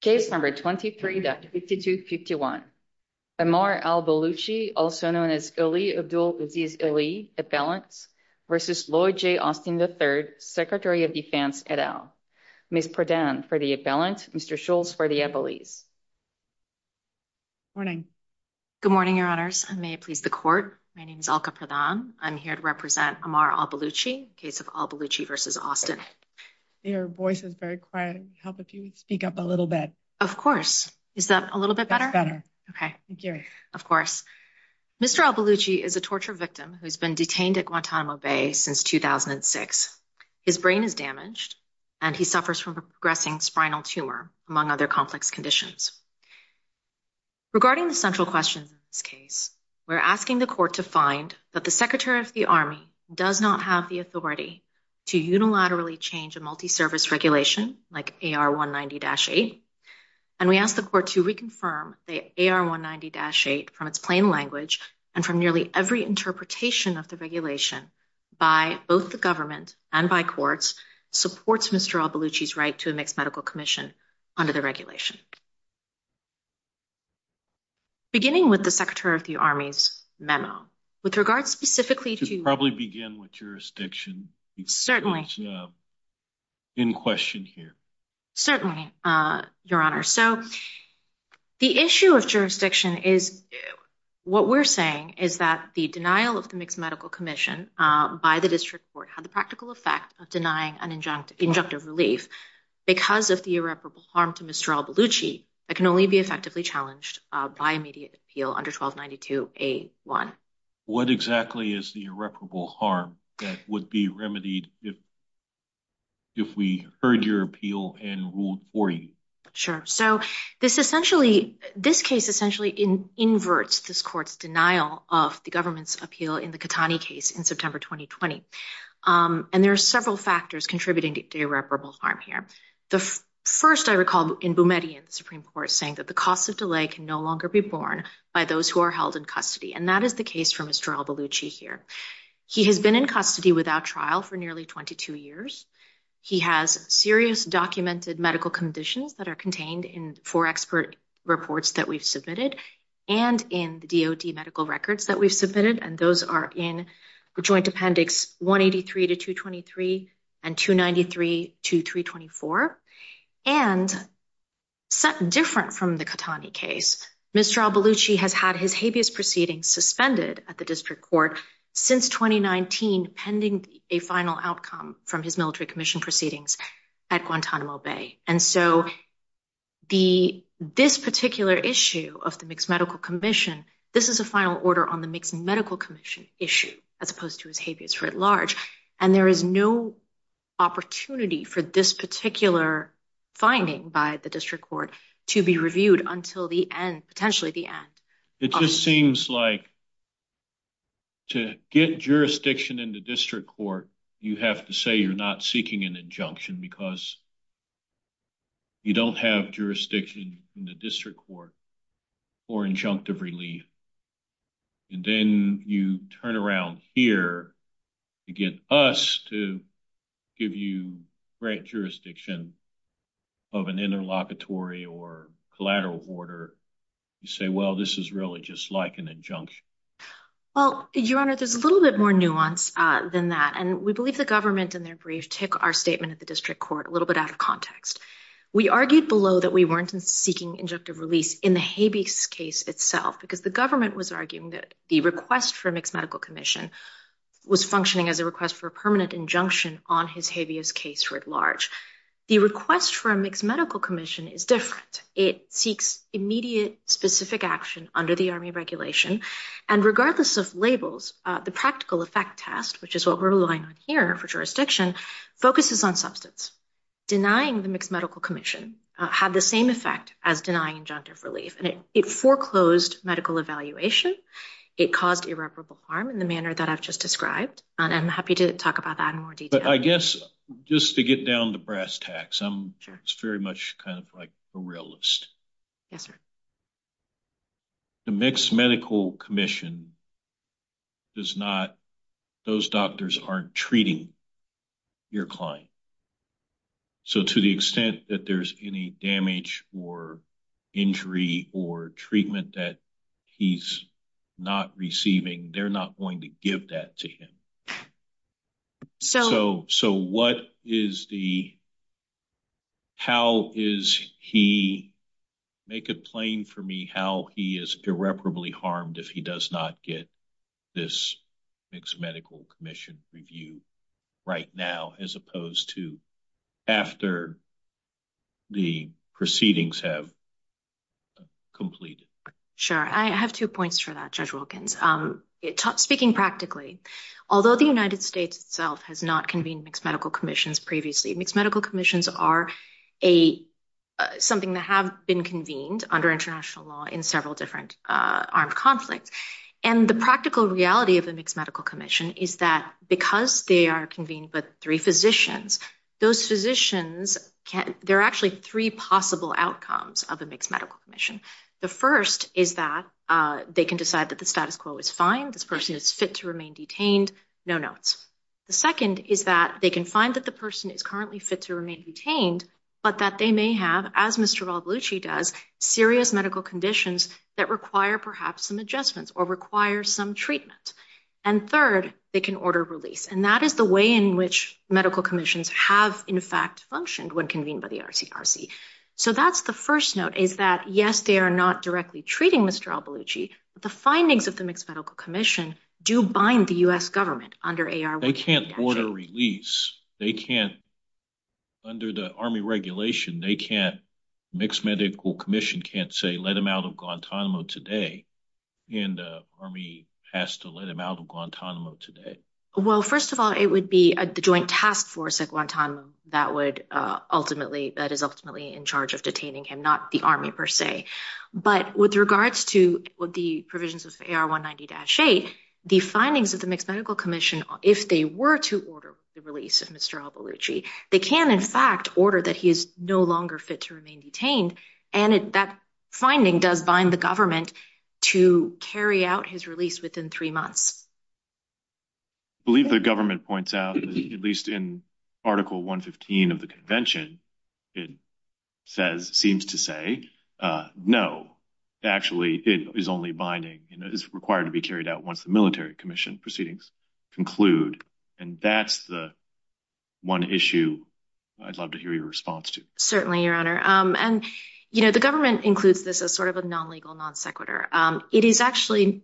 Case number 23-5251, Ammar Al-Baluchi, also known as Ali Abdul Aziz Ali, appellants versus Lloyd J. Austin III, Secretary of Defense et al. Ms. Pradhan for the appellant, Mr. Schultz for the appellees. Morning. Good morning, your honors. I may please the court. My name is Alka Pradhan. I'm here to represent Ammar Al-Baluchi, case of Al-Baluchi v. Austin. Your voice is very quiet. Help if you speak up a little bit. Of course. Is that a little bit better? Okay. Thank you. Of course. Mr. Al-Baluchi is a torture victim who's been detained at Guantanamo Bay since 2006. His brain is damaged and he suffers from a progressing spinal tumor among other complex conditions. Regarding the central questions in this case, we're asking the court to find that the Secretary of the Army does not have the authority to unilaterally change a multi-service regulation like AR-190-8. And we ask the court to reconfirm the AR-190-8 from its plain language and from nearly every interpretation of the regulation by both the government and by courts supports Mr. Al-Baluchi's right to a mixed medical commission under the regulation. Beginning with the Secretary of the Army's memo, with regards specifically to- Can I begin with jurisdiction? Certainly. In question here. Certainly, Your Honor. So the issue of jurisdiction is, what we're saying is that the denial of the mixed medical commission by the district court had the practical effect of denying an injunctive relief because of the irreparable harm to Mr. Al-Baluchi that can only be effectively challenged by immediate appeal under 1292A1. What exactly is the irreparable harm that would be remedied if we heard your appeal and ruled for you? Sure. So this case essentially inverts this court's denial of the government's appeal in the Khatani case in September, 2020. And there are several factors contributing to irreparable harm here. The first I recall in Boumedi in the Supreme Court saying that the cost of delay can no longer be borne by those who are held in custody. And that is the case for Mr. Al-Baluchi here. He has been in custody without trial for nearly 22 years. He has serious documented medical conditions that are contained in four expert reports that we've submitted and in the DOD medical records that we've submitted. And those are in Joint Appendix 183 to 223 and 293 to 324. And set different from the Khatani case, Mr. Al-Baluchi has had his habeas proceedings suspended at the district court since 2019, pending a final outcome from his military commission proceedings at Guantanamo Bay. And so this particular issue of the mixed medical commission, this is a final order on the mixed medical commission issue as opposed to his habeas writ large. And there is no opportunity for this particular finding by the district court to be reviewed until the end, potentially the end. It just seems like to get jurisdiction in the district court, you have to say you're not seeking an injunction because you don't have jurisdiction in the district court for injunctive relief. And then you turn around here to get us to give you grant jurisdiction of an interlocutory or collateral order. You say, well, this is really just like an injunction. Well, Your Honor, there's a little bit more nuance than that. And we believe the government in their brief took our statement at the district court a little bit out of context. We argued below that we weren't seeking injunctive release in the habeas case itself, because the government was arguing that the request for a mixed medical commission was functioning as a request for a permanent injunction on his habeas case writ large. The request for a mixed medical commission is different. It seeks immediate specific action under the army regulation and regardless of labels, the practical effect test, which is what we're relying on here for jurisdiction, focuses on substance. Denying the mixed medical commission had the same effect as denying injunctive relief. And it foreclosed medical evaluation. It caused irreparable harm in the manner that I've just described. And I'm happy to talk about that in more detail. But I guess just to get down to brass tacks, I'm very much kind of like a realist. Yes, sir. The mixed medical commission does not, those doctors aren't treating your client. So to the extent that there's any damage or injury or treatment that he's not receiving, they're not going to give that to him. So what is the, how is he, make it plain for me, how he is irreparably harmed if he does not get this mixed medical commission review right now, as opposed to after the proceedings have completed? Sure, I have two points for that, Judge Wilkins. Speaking practically, although the United States itself has not convened mixed medical commissions previously, mixed medical commissions are a, something that have been convened under international law in several different armed conflicts. And the practical reality of a mixed medical commission is that because they are convened by three physicians, those physicians can, there are actually three possible outcomes of a mixed medical commission. The first is that they can decide that the status quo is fine, this person is fit to remain detained, no notes. The second is that they can find that the person is currently fit to remain detained, but that they may have, as Mr. Ravlucci does, serious medical conditions that require perhaps some adjustments or require some treatment. And third, they can order release. And that is the way in which medical commissions have in fact functioned when convened by the RCRC. So that's the first note, is that yes, they are not directly treating Mr. Ravlucci, but the findings of the mixed medical commission do bind the US government under AR- They can't order release. They can't, under the army regulation, they can't, mixed medical commission can't say, let him out of Guantanamo today. And the army has to let him out of Guantanamo today. Well, first of all, it would be the joint task force at Guantanamo that would ultimately, that is ultimately in charge of detaining him, not the army per se. But with regards to the provisions of AR-190-8, the findings of the mixed medical commission, if they were to order the release of Mr. Ravlucci, they can in fact order that he is no longer fit to remain detained. And that finding does bind the government to carry out his release within three months. I believe the government points out, at least in article 115 of the convention, it says, seems to say, no, actually it is only binding, you know, it's required to be carried out once the military commission proceedings conclude. And that's the one issue I'd love to hear your response to. Certainly, your honor. And, you know, the government includes this as sort of a non-legal non sequitur. It is actually,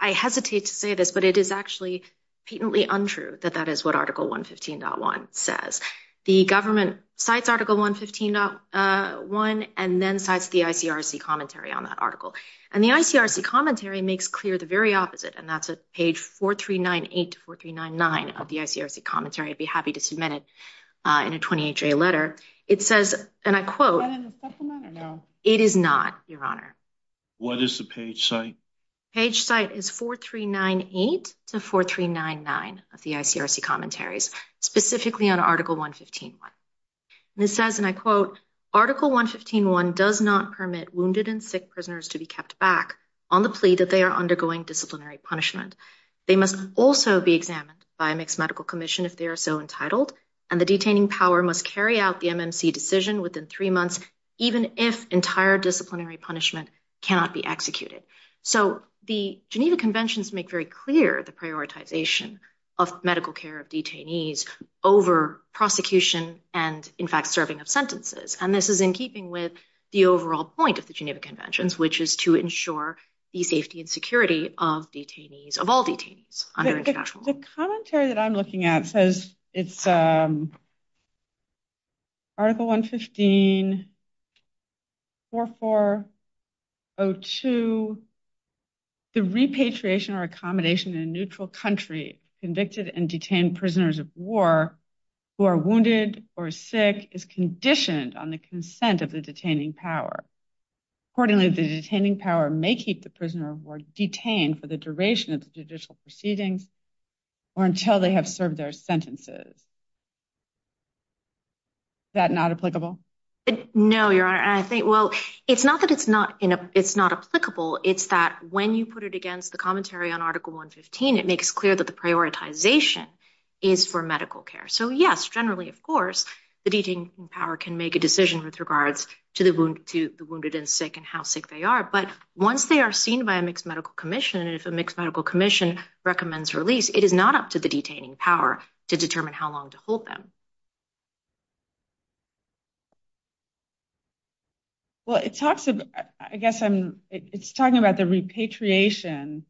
I hesitate to say this, but it is actually patently untrue that that is what article 115.1 says. The government cites article 115.1 and then cites the ICRC commentary on that article. And the ICRC commentary makes clear the very opposite, and that's at page 4398 to 4399 of the ICRC commentary. I'd be happy to submit it in a 28-day letter. It says, and I quote- Is that in the supplement or no? It is not, your honor. What is the page site? Page site is 4398 to 4399 of the ICRC commentaries, specifically on article 115.1. And it says, and I quote, article 115.1 does not permit wounded and sick prisoners to be kept back on the plea that they are undergoing disciplinary punishment. They must also be examined by a mixed medical commission if they are so entitled, and the detaining power must carry out the MMC decision within three months, even if entire disciplinary punishment cannot be executed. So the Geneva Conventions make very clear the prioritization of medical care of detainees over prosecution and, in fact, serving of sentences. And this is in keeping with the overall point of the Geneva Conventions, which is to ensure the safety and security of detainees, of all detainees under international law. The commentary that I'm looking at says it's article 115.4402, 02, the repatriation or accommodation in a neutral country convicted and detained prisoners of war who are wounded or sick is conditioned on the consent of the detaining power. Accordingly, the detaining power may keep the prisoner of war detained for the duration of the judicial proceedings or until they have served their sentences. That not applicable? No, Your Honor, and I think, well, it's not that it's not applicable. It's that when you put it against the commentary on article 115, it makes clear that the prioritization is for medical care. So yes, generally, of course, the detaining power can make a decision with regards to the wounded and sick and how sick they are. But once they are seen by a mixed medical commission, and if a mixed medical commission recommends release, it is not up to the detaining power to determine how long to hold them. Well, it talks about, I guess I'm, it's talking about the repatriation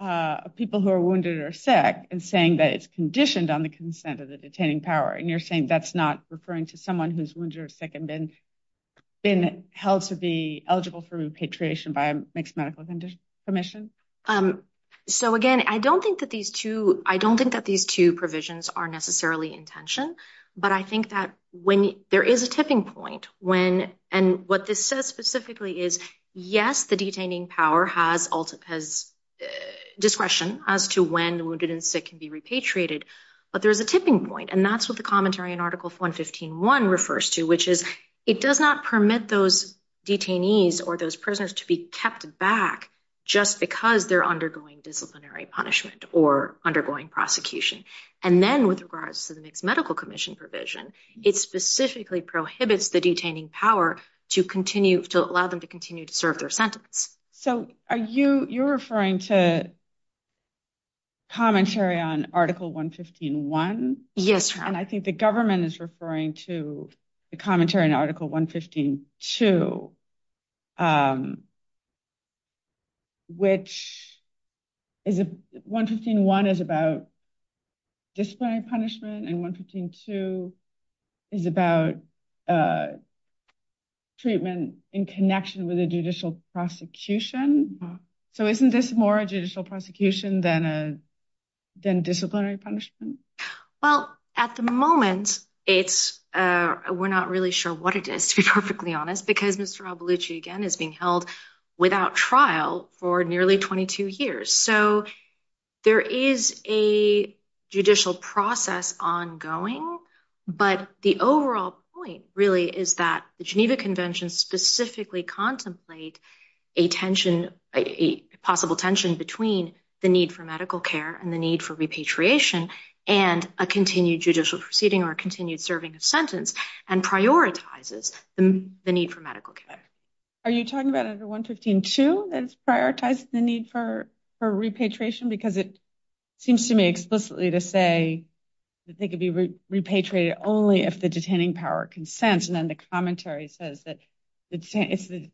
of people who are wounded or sick and saying that it's conditioned on the consent of the detaining power. And you're saying that's not referring to someone who's wounded or sick and been held to be eligible for repatriation by a mixed medical commission? So again, I don't think that these two, I don't think that these two provisions are necessarily intention, but I think that when there is a tipping point when, and what this says specifically is, yes, the detaining power has discretion as to when the wounded and sick can be repatriated, but there's a tipping point. And that's what the commentary in article 115.1 refers to, which is it does not permit those detainees or those prisoners to be kept back just because they're undergoing disciplinary punishment or undergoing prosecution. And then with regards to the mixed medical commission provision, it specifically prohibits the detaining power to allow them to continue to serve their sentence. So are you referring to commentary on article 115.1? Yes. And I think the government is referring to the commentary in article 115.2, which is, 115.1 is about disciplinary punishment and 115.2 is about treatment in connection with a judicial prosecution. So isn't this more a judicial prosecution than disciplinary punishment? Well, at the moment, it's, we're not really sure what it is, to be perfectly honest, because Mr. Albulucci, again, is being held without trial for nearly 22 years. So there is a judicial process ongoing, but the overall point really is that the Geneva Convention specifically contemplate a tension, a possible tension between the need for medical care and the need for repatriation and a continued judicial proceeding or a continued serving of sentence and prioritizes the need for medical care. Are you talking about under 115.2 that it's prioritized the need for repatriation? Because it seems to me explicitly to say that they could be repatriated only if the detaining power consents. And then the commentary says that it's the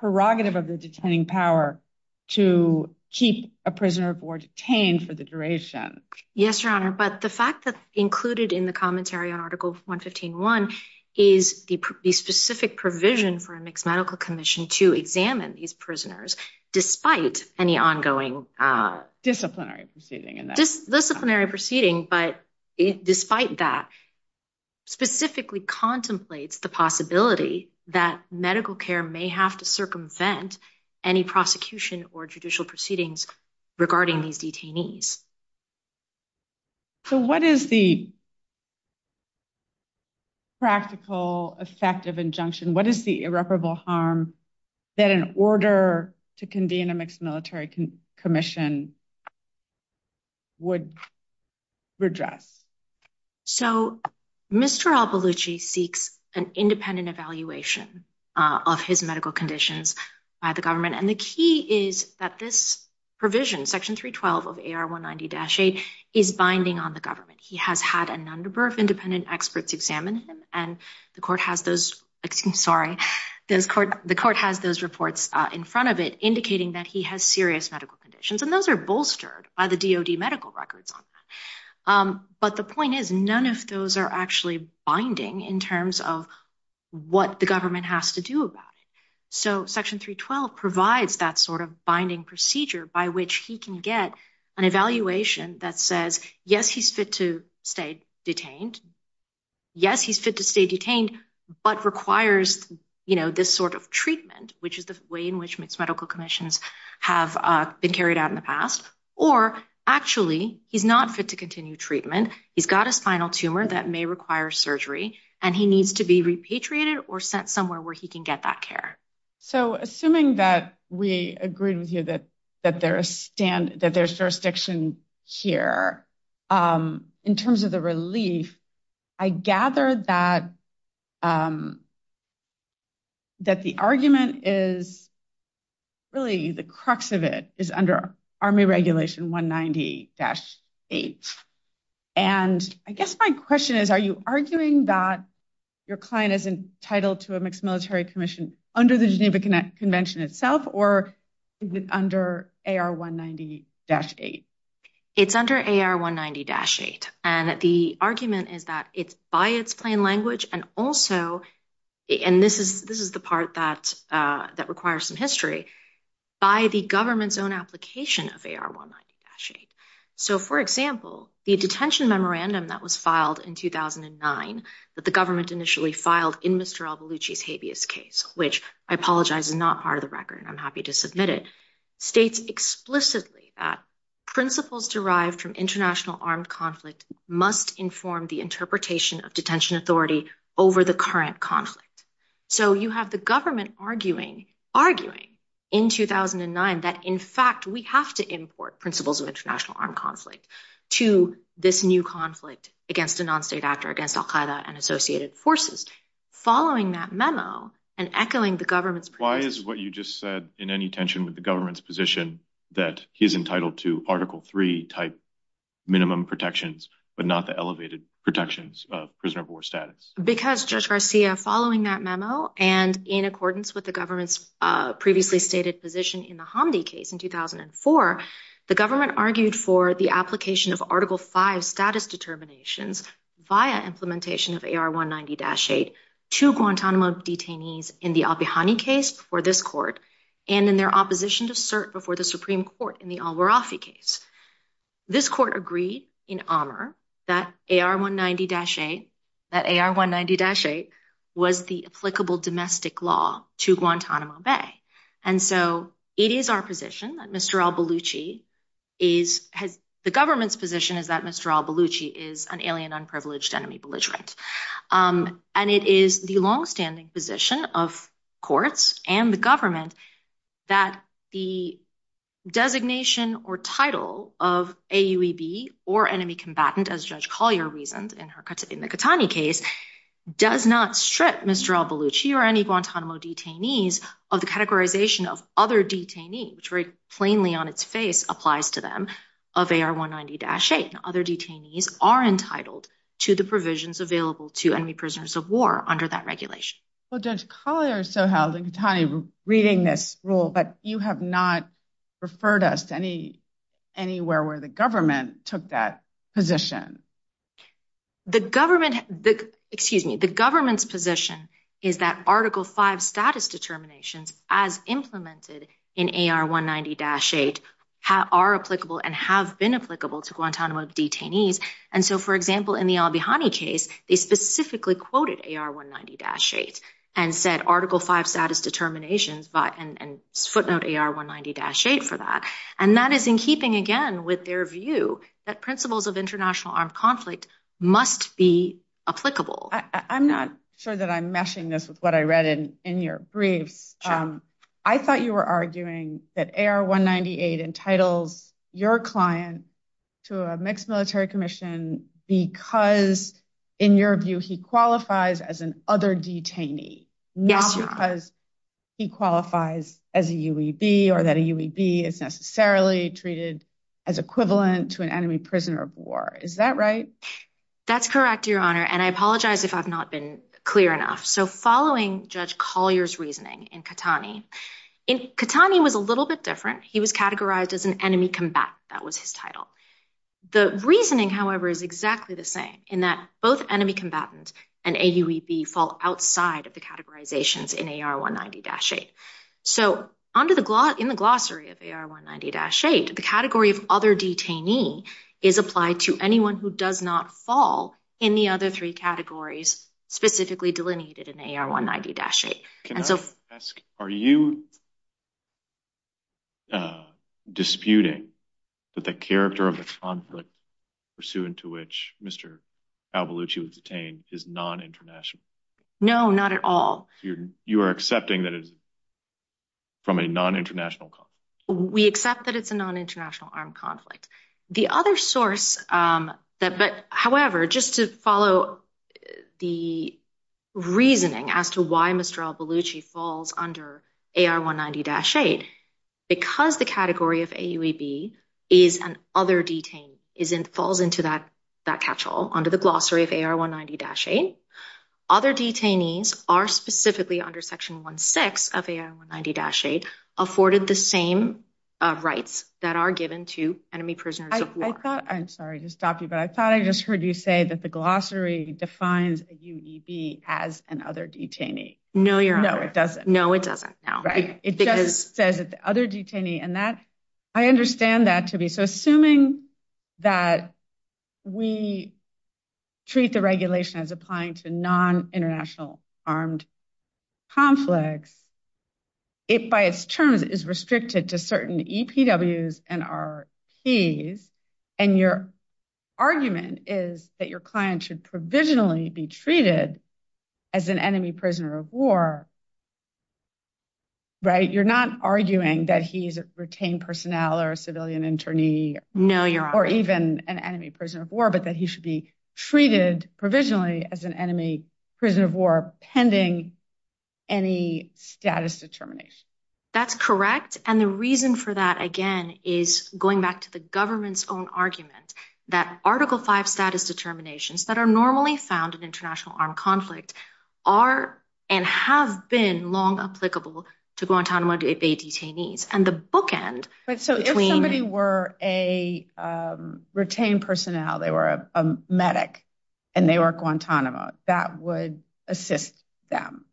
prerogative of the detaining power to keep a prisoner of war detained for the duration. Yes, Your Honor. But the fact that included in the commentary on Article 115.1 is the specific provision for a mixed medical commission to examine these prisoners despite any ongoing- Disciplinary proceeding. Disciplinary proceeding, but despite that, specifically contemplates the possibility that medical care may have to circumvent any prosecution or judicial proceedings regarding these detainees. So what is the practical effect of injunction? What is the irreparable harm that an order to convene a mixed military commission would redress? So Mr. Alpaglucci seeks an independent evaluation of his medical conditions by the government. And the key is that this provision, section 312 of AR190-8 is binding on the government. He has had an number of independent experts examine him and the court has those, excuse me, sorry, the court has those reports in front of it indicating that he has serious medical conditions. And those are bolstered by the DOD medical records. But the point is, none of those are actually binding in terms of what the government has to do about it. So section 312 provides that sort of binding procedure by which he can get an evaluation that says, yes, he's fit to stay detained. Yes, he's fit to stay detained, but requires this sort of treatment, which is the way in which mixed medical commissions have been carried out in the past. Or actually he's not fit to continue treatment. He's got a spinal tumor that may require surgery and he needs to be repatriated or sent somewhere where he can get that care. So assuming that we agreed with you that there's jurisdiction here, in terms of the relief, I gather that the argument is really the crux of it is under Army Regulation 190-8. And I guess my question is, are you arguing that your client is entitled to a mixed military commission under the Geneva Convention itself, or under AR-190-8? It's under AR-190-8. And the argument is that it's by its plain language and also, and this is the part that requires some history, by the government's own application of AR-190-8. So for example, the detention memorandum that was filed in 2009, that the government initially filed in Mr. Al-Baluchi's habeas case, which I apologize is not part of the record and I'm happy to submit it, states explicitly that principles derived from international armed conflict must inform the interpretation of detention authority over the current conflict. So you have the government arguing in 2009 that in fact, we have to import principles of international armed conflict to this new conflict against a non-state actor, against Al-Qaeda and associated forces. Following that memo and echoing the government's- Why is what you just said in any tension with the government's position that he's entitled to Article III type minimum protections, but not the elevated protections of prisoner of war status? Because Judge Garcia, following that memo and in accordance with the government's previously stated position in the Hamdi case in 2004, the government argued for the application of Article V status determinations via implementation of AR-190-8 to Guantanamo detainees in the Abihani case for this court and in their opposition to cert before the Supreme Court in the Al-Warafi case. This court agreed in armor that AR-190-8, that AR-190-8 was the applicable domestic law to Guantanamo Bay. And so it is our position that Mr. Al-Baluchi is- The government's position is that Mr. Al-Baluchi is an alien, unprivileged enemy belligerent. And it is the longstanding position of courts and the government that the designation or title of AUEB or enemy combatant, as Judge Collier reasoned in the Katani case, does not strip Mr. Al-Baluchi or any Guantanamo detainees of the categorization of other detainee, which very plainly on its face applies to them, of AR-190-8. Other detainees are entitled to the provisions available to enemy prisoners of war under that regulation. Well, Judge Collier so held in Katani reading this rule, but you have not referred us to anywhere where the government took that position. The government, excuse me, the government's position is that Article V status determinations as implemented in AR-190-8 are applicable and have been applicable to Guantanamo detainees. And so for example, in the Al-Bihani case, they specifically quoted AR-190-8 and said Article V status determinations and footnote AR-190-8 for that. And that is in keeping again with their view that principles of international armed conflict must be applicable. I'm not sure that I'm meshing this with what I read in your briefs. I thought you were arguing that AR-190-8 entitles your client to a mixed military commission because in your view, he qualifies as an other detainee, not because he qualifies as a UEB or that a UEB is necessarily treated as equivalent to an enemy prisoner of war. Is that right? That's correct, Your Honor. And I apologize if I've not been clear enough. So following Judge Collier's reasoning in Katani, in Katani was a little bit different. He was categorized as an enemy combatant. That was his title. The reasoning, however, is exactly the same in that both enemy combatants and AUEB fall outside of the categorizations in AR-190-8. So in the glossary of AR-190-8, the category of other detainee is applied to anyone who does not fall in the other three categories, specifically delineated in AR-190-8. And so- Can I ask, are you disputing that the character of the conflict pursuant to which Mr. Albulucci was detained is non-international? No, not at all. You are accepting that it is from a non-international conflict? We accept that it's a non-international armed conflict. The other source that, but however, just to follow the reasoning as to why Mr. Albulucci falls under AR-190-8, because the category of AUEB is an other detainee, falls into that catch-all under the glossary of AR-190-8, other detainees are specifically under section 1-6 of AR-190-8 afforded the same rights that are given to enemy prisoners of war. I'm sorry to stop you, but I thought I just heard you say that the glossary defines AUEB as an other detainee. No, Your Honor. No, it doesn't. No, it doesn't, no. It just says that the other detainee, and that, I understand that to be, so assuming that we treat the regulation as applying to non-international armed conflicts, it by its terms is restricted to certain EPWs and RPs, and your argument is that your client should provisionally be treated as an enemy prisoner of war, right? You're not arguing that he's a retained personnel or a civilian internee. No, Your Honor. Or even an enemy prisoner of war, but that he should be treated provisionally as an enemy prisoner of war pending any status determination. That's correct, and the reason for that, again, is going back to the government's own argument that Article V status determinations that are normally found in international armed conflict are and have been long applicable to Guantanamo Bay detainees, and the bookend- But so if somebody were a retained personnel, they were a medic, and they were Guantanamo, that would assist them.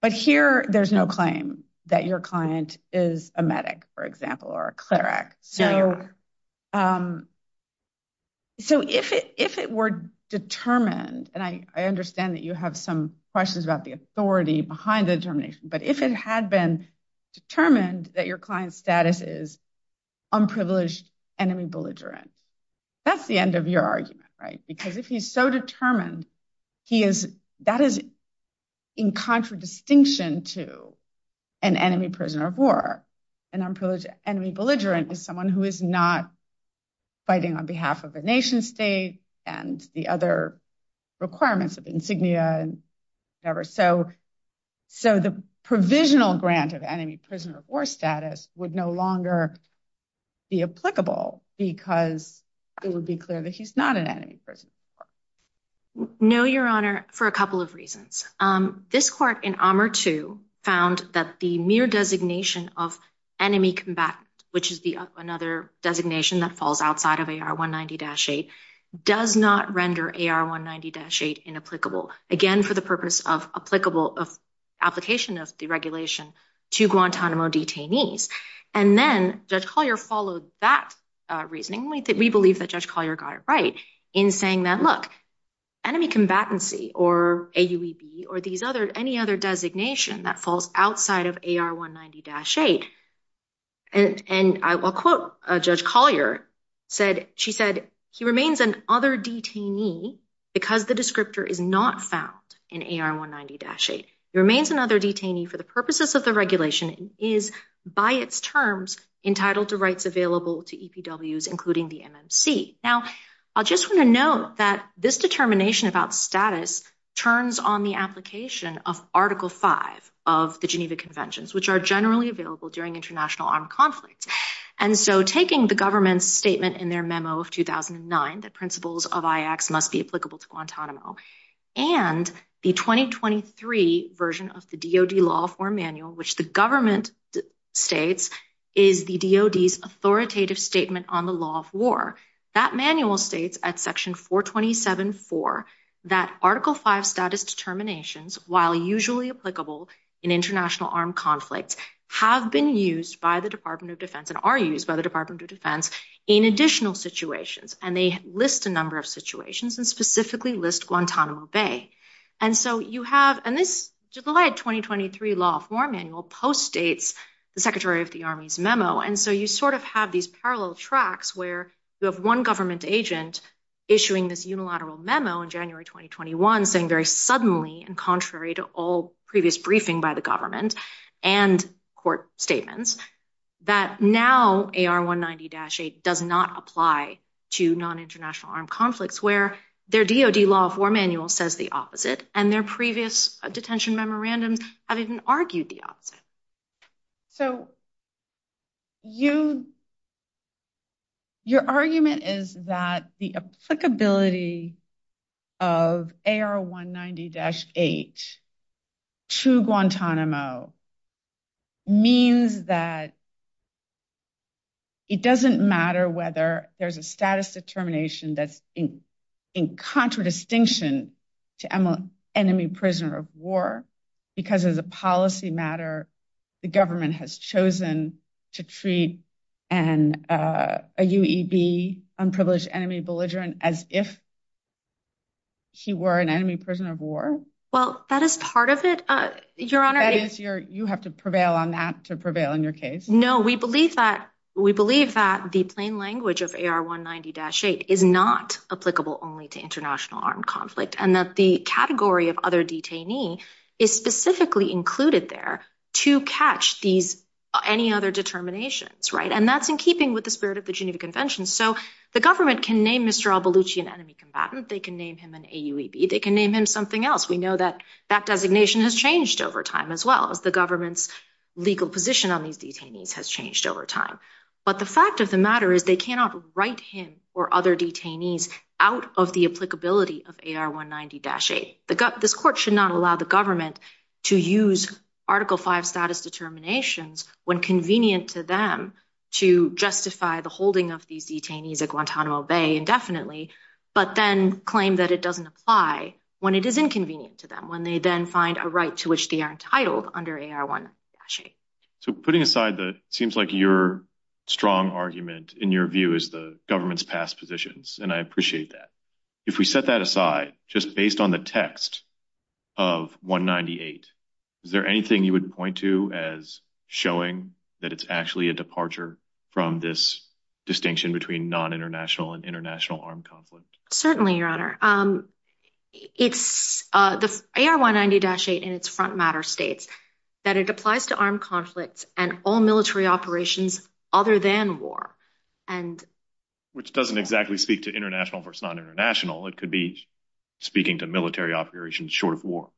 But here there's no claim that your client is a medic, for example, or a cleric. No, Your Honor. So if it were determined, and I understand that you have some questions about the authority behind the determination, but if it had been determined that your client's status is unprivileged enemy belligerent, that's the end of your argument, right? Because if he's so determined, that is in contradistinction to an enemy prisoner of war, and unprivileged enemy belligerent is someone who is not fighting on behalf of a nation state and the other requirements of insignia and whatever. So the provisional grant of enemy prisoner of war status would no longer be applicable because it would be clear that he's not an enemy prisoner of war. No, Your Honor, for a couple of reasons. This court in AMR II found that the mere designation of enemy combatant, which is another designation that falls outside of AR 190-8, does not render AR 190-8 inapplicable. Again, for the purpose of application of deregulation to Guantanamo detainees. And then Judge Collier followed that reasoning. We believe that Judge Collier got it right in saying that, look, enemy combatancy or AUEB or any other designation that falls outside of AR 190-8. And I will quote Judge Collier, she said, he remains an other detainee because the descriptor is not found in AR 190-8. He remains another detainee for the purposes of the regulation is by its terms entitled to rights available to EPWs, including the MMC. Now, I just want to note that this determination about status turns on the application of Article V of the Geneva Conventions, which are generally available during international armed conflict. And so taking the government's statement in their memo of 2009, that principles of IACs must be applicable to Guantanamo and the 2023 version of the DoD law form manual, which the government states is the DoD's authoritative statement on the law of war. That manual states at section 427-4 that Article V status determinations, while usually applicable in international armed conflicts, have been used by the Department of Defense and are used by the Department of Defense in additional situations. And they list a number of situations and specifically list Guantanamo Bay. And so you have, and this July 2023 law form manual postdates the Secretary of the Army's memo. And so you sort of have these parallel tracks where you have one government agent issuing this unilateral memo in January, 2021, saying very suddenly, and contrary to all previous briefing by the government and court statements, that now AR190-8 does not apply to non-international armed conflicts where their DoD law form manual says the opposite and their previous detention memorandums have even argued the opposite. So your argument is that the applicability of AR190-8 to Guantanamo means that it doesn't matter whether there's a status determination that's in contradistinction to enemy prisoner of war, because as a policy matter, the government has chosen to treat a UEB, unprivileged enemy belligerent, as if he were an enemy prisoner of war? Well, that is part of it, Your Honor. That is your, you have to prevail on that to prevail in your case. No, we believe that the plain language of AR190-8 is not applicable only to international armed conflict and that the category of other detainee is specifically included there to catch these, any other determinations, right? And that's in keeping with the spirit of the Geneva Convention. So the government can name Mr. Albulucci an enemy combatant, they can name him an AUEB, they can name him something else. We know that that designation has changed over time as well as the government's legal position on these detainees has changed over time. But the fact of the matter is they cannot write him or other detainees out of the applicability of AR190-8. This court should not allow the government to use Article V status determinations when convenient to them to justify the holding of these detainees at Guantanamo Bay indefinitely, but then claim that it doesn't apply when it is inconvenient to them, when they then find a right to which they are entitled under AR190-8. So putting aside the, it seems like your strong argument in your view is the government's past positions. And I appreciate that. If we set that aside, just based on the text of 198, is there anything you would point to as showing that it's actually a departure from this distinction between non-international and international armed conflict? Certainly, Your Honor. AR190-8 in its front matter states that it applies to armed conflicts and all military operations other than war. Which doesn't exactly speak to international versus non-international. It could be speaking to military operations short of war.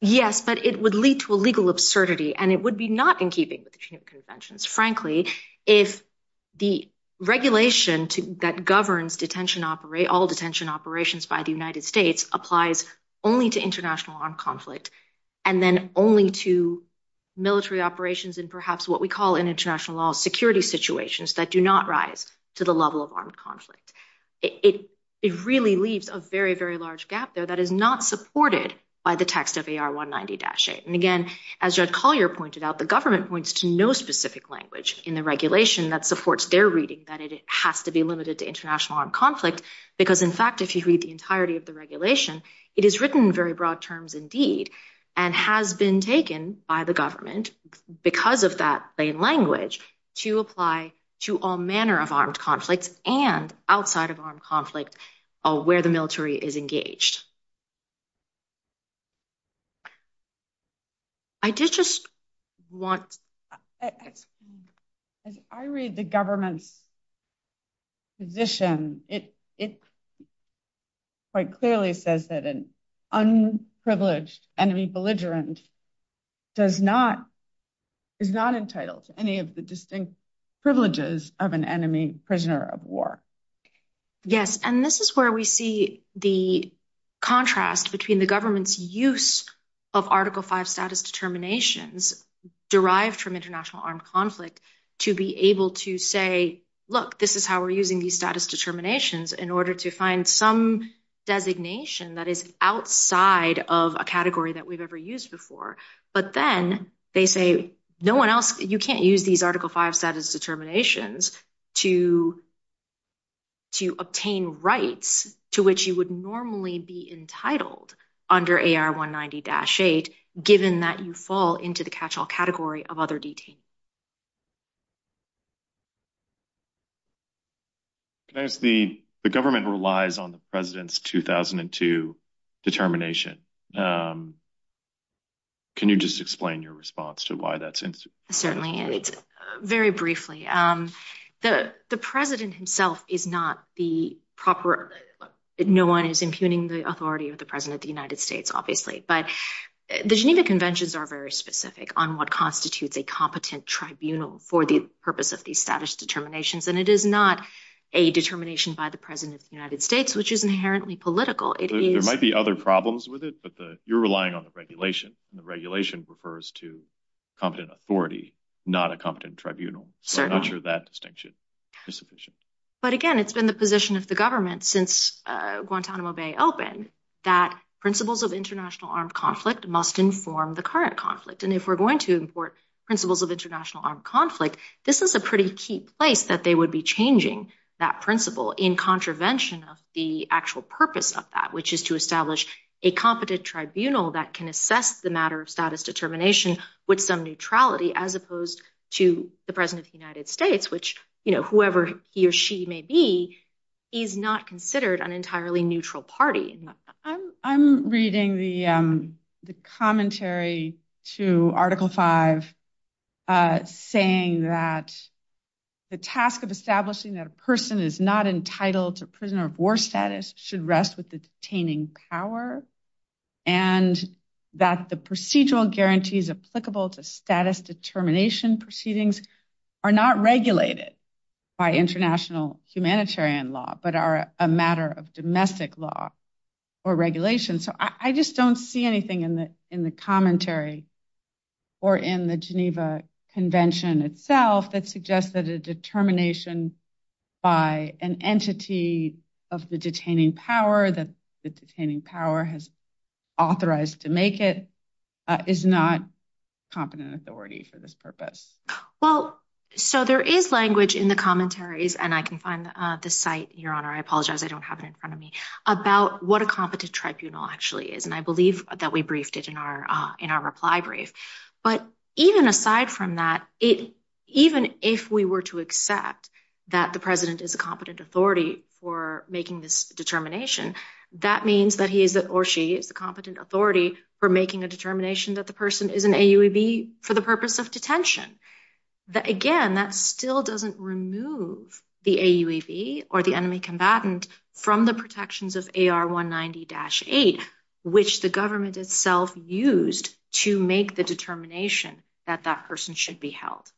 Yes, but it would lead to a legal absurdity and it would be not in keeping with the Geneva Conventions. Frankly, if the regulation that governs detention, all detention operations by the United States applies only to international armed conflict and then only to military operations and perhaps what we call in international law security situations that do not rise to the level of armed conflict. It really leaves a very, very large gap there that is not supported by the text of AR190-8. And again, as Judd Collier pointed out, the government points to no specific language in the regulation that supports their reading that it has to be limited to international armed conflict because in fact, if you read the entirety of the regulation, it is written in very broad terms indeed and has been taken by the government because of that plain language to apply to all manner of armed conflicts and outside of armed conflict where the military is engaged. I did just want... As I read the government's position, it quite clearly says that an unprivileged enemy belligerent is not entitled to any of the distinct privileges of an enemy prisoner of war. Yes, and this is where we see the contrast between the government's use of Article V status determinations derived from international armed conflict to be able to say, look, this is how we're using these status determinations in order to find some designation that is outside of a category that we've ever used before. But then they say, no one else, you can't use these Article V status determinations to obtain rights to which you would normally be entitled under AR-190-8, given that you fall into the catch-all category of other detainees. Can I ask, the government relies on the president's 2002 determination. Can you just explain your response to why that's... Certainly, and it's very briefly. The president himself is not the proper... No one is impugning the authority of the president of the United States, obviously. But the Geneva Conventions are very specific on what constitutes a competent tribunal for the purpose of these status determinations. And it is not a determination by the president of the United States, which is inherently political. It is- There might be other problems with it, but you're relying on the regulation. And the regulation refers to competent authority, not a competent tribunal. So I'm not sure that distinction is sufficient. But again, it's been the position of the government since Guantanamo Bay opened, that principles of international armed conflict must inform the current conflict. And if we're going to import principles of international armed conflict, this is a pretty key place that they would be changing that principle in contravention of the actual purpose of that, which is to establish a competent tribunal that can assess the matter of status determination with some neutrality, as opposed to the president of the United States, which, you know, whoever he or she may be, is not considered an entirely neutral party. I'm reading the commentary to Article 5, saying that the task of establishing that a person is not entitled to prisoner of war status should rest with the detaining power, and that the procedural guarantees applicable to status determination proceedings are not regulated by international humanitarian law, but are a matter of domestic law or regulation. So I just don't see anything in the commentary or in the Geneva Convention itself that suggests that a determination by an entity of the detaining power, that the detaining power has authorized to make it, is not competent authority for this purpose. Well, so there is language in the commentaries, and I can find the site, Your Honor, I apologize, I don't have it in front of me, about what a competent tribunal actually is. And I believe that we briefed it in our reply brief. But even aside from that, even if we were to accept that the president is a competent authority for making this determination, that means that he is, or she is, the competent authority for making a determination that the person is an AUEB for the purpose of detention. That again, that still doesn't remove the AUEB or the enemy combatant from the protections of AR 190-8, which the government itself used to make the determination that that person should be held.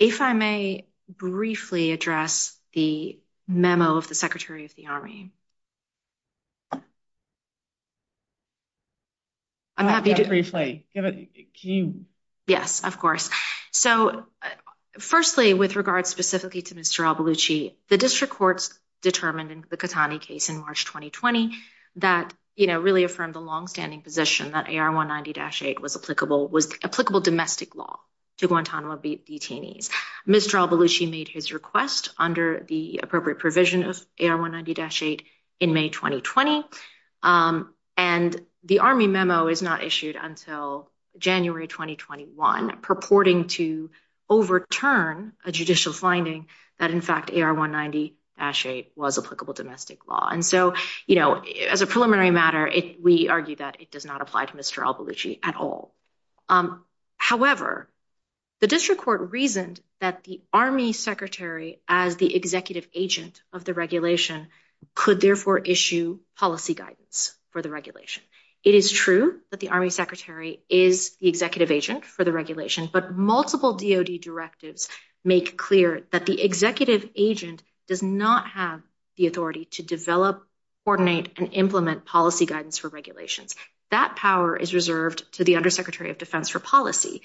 If I may briefly address the memo of the Secretary of the Army. I'm happy to- Can you? Yes, of course. So firstly, with regards specifically to Mr. Albulucci, the district courts determined in the Katani case in March of this year, that really affirmed the longstanding position that AR 190-8 was applicable domestic law to Guantanamo detainees. Mr. Albulucci made his request under the appropriate provision of AR 190-8 in May, 2020. And the Army memo is not issued until January, 2021, purporting to overturn a judicial finding that in fact AR 190-8 was applicable domestic law. And so, as a preliminary matter, we argue that it does not apply to Mr. Albulucci at all. However, the district court reasoned that the Army secretary as the executive agent of the regulation could therefore issue policy guidance for the regulation. It is true that the Army secretary is the executive agent for the regulation, but multiple DOD directives make clear that the executive agent does not have the authority to develop, coordinate, and implement policy guidance for regulations. That power is reserved to the undersecretary of defense for policy,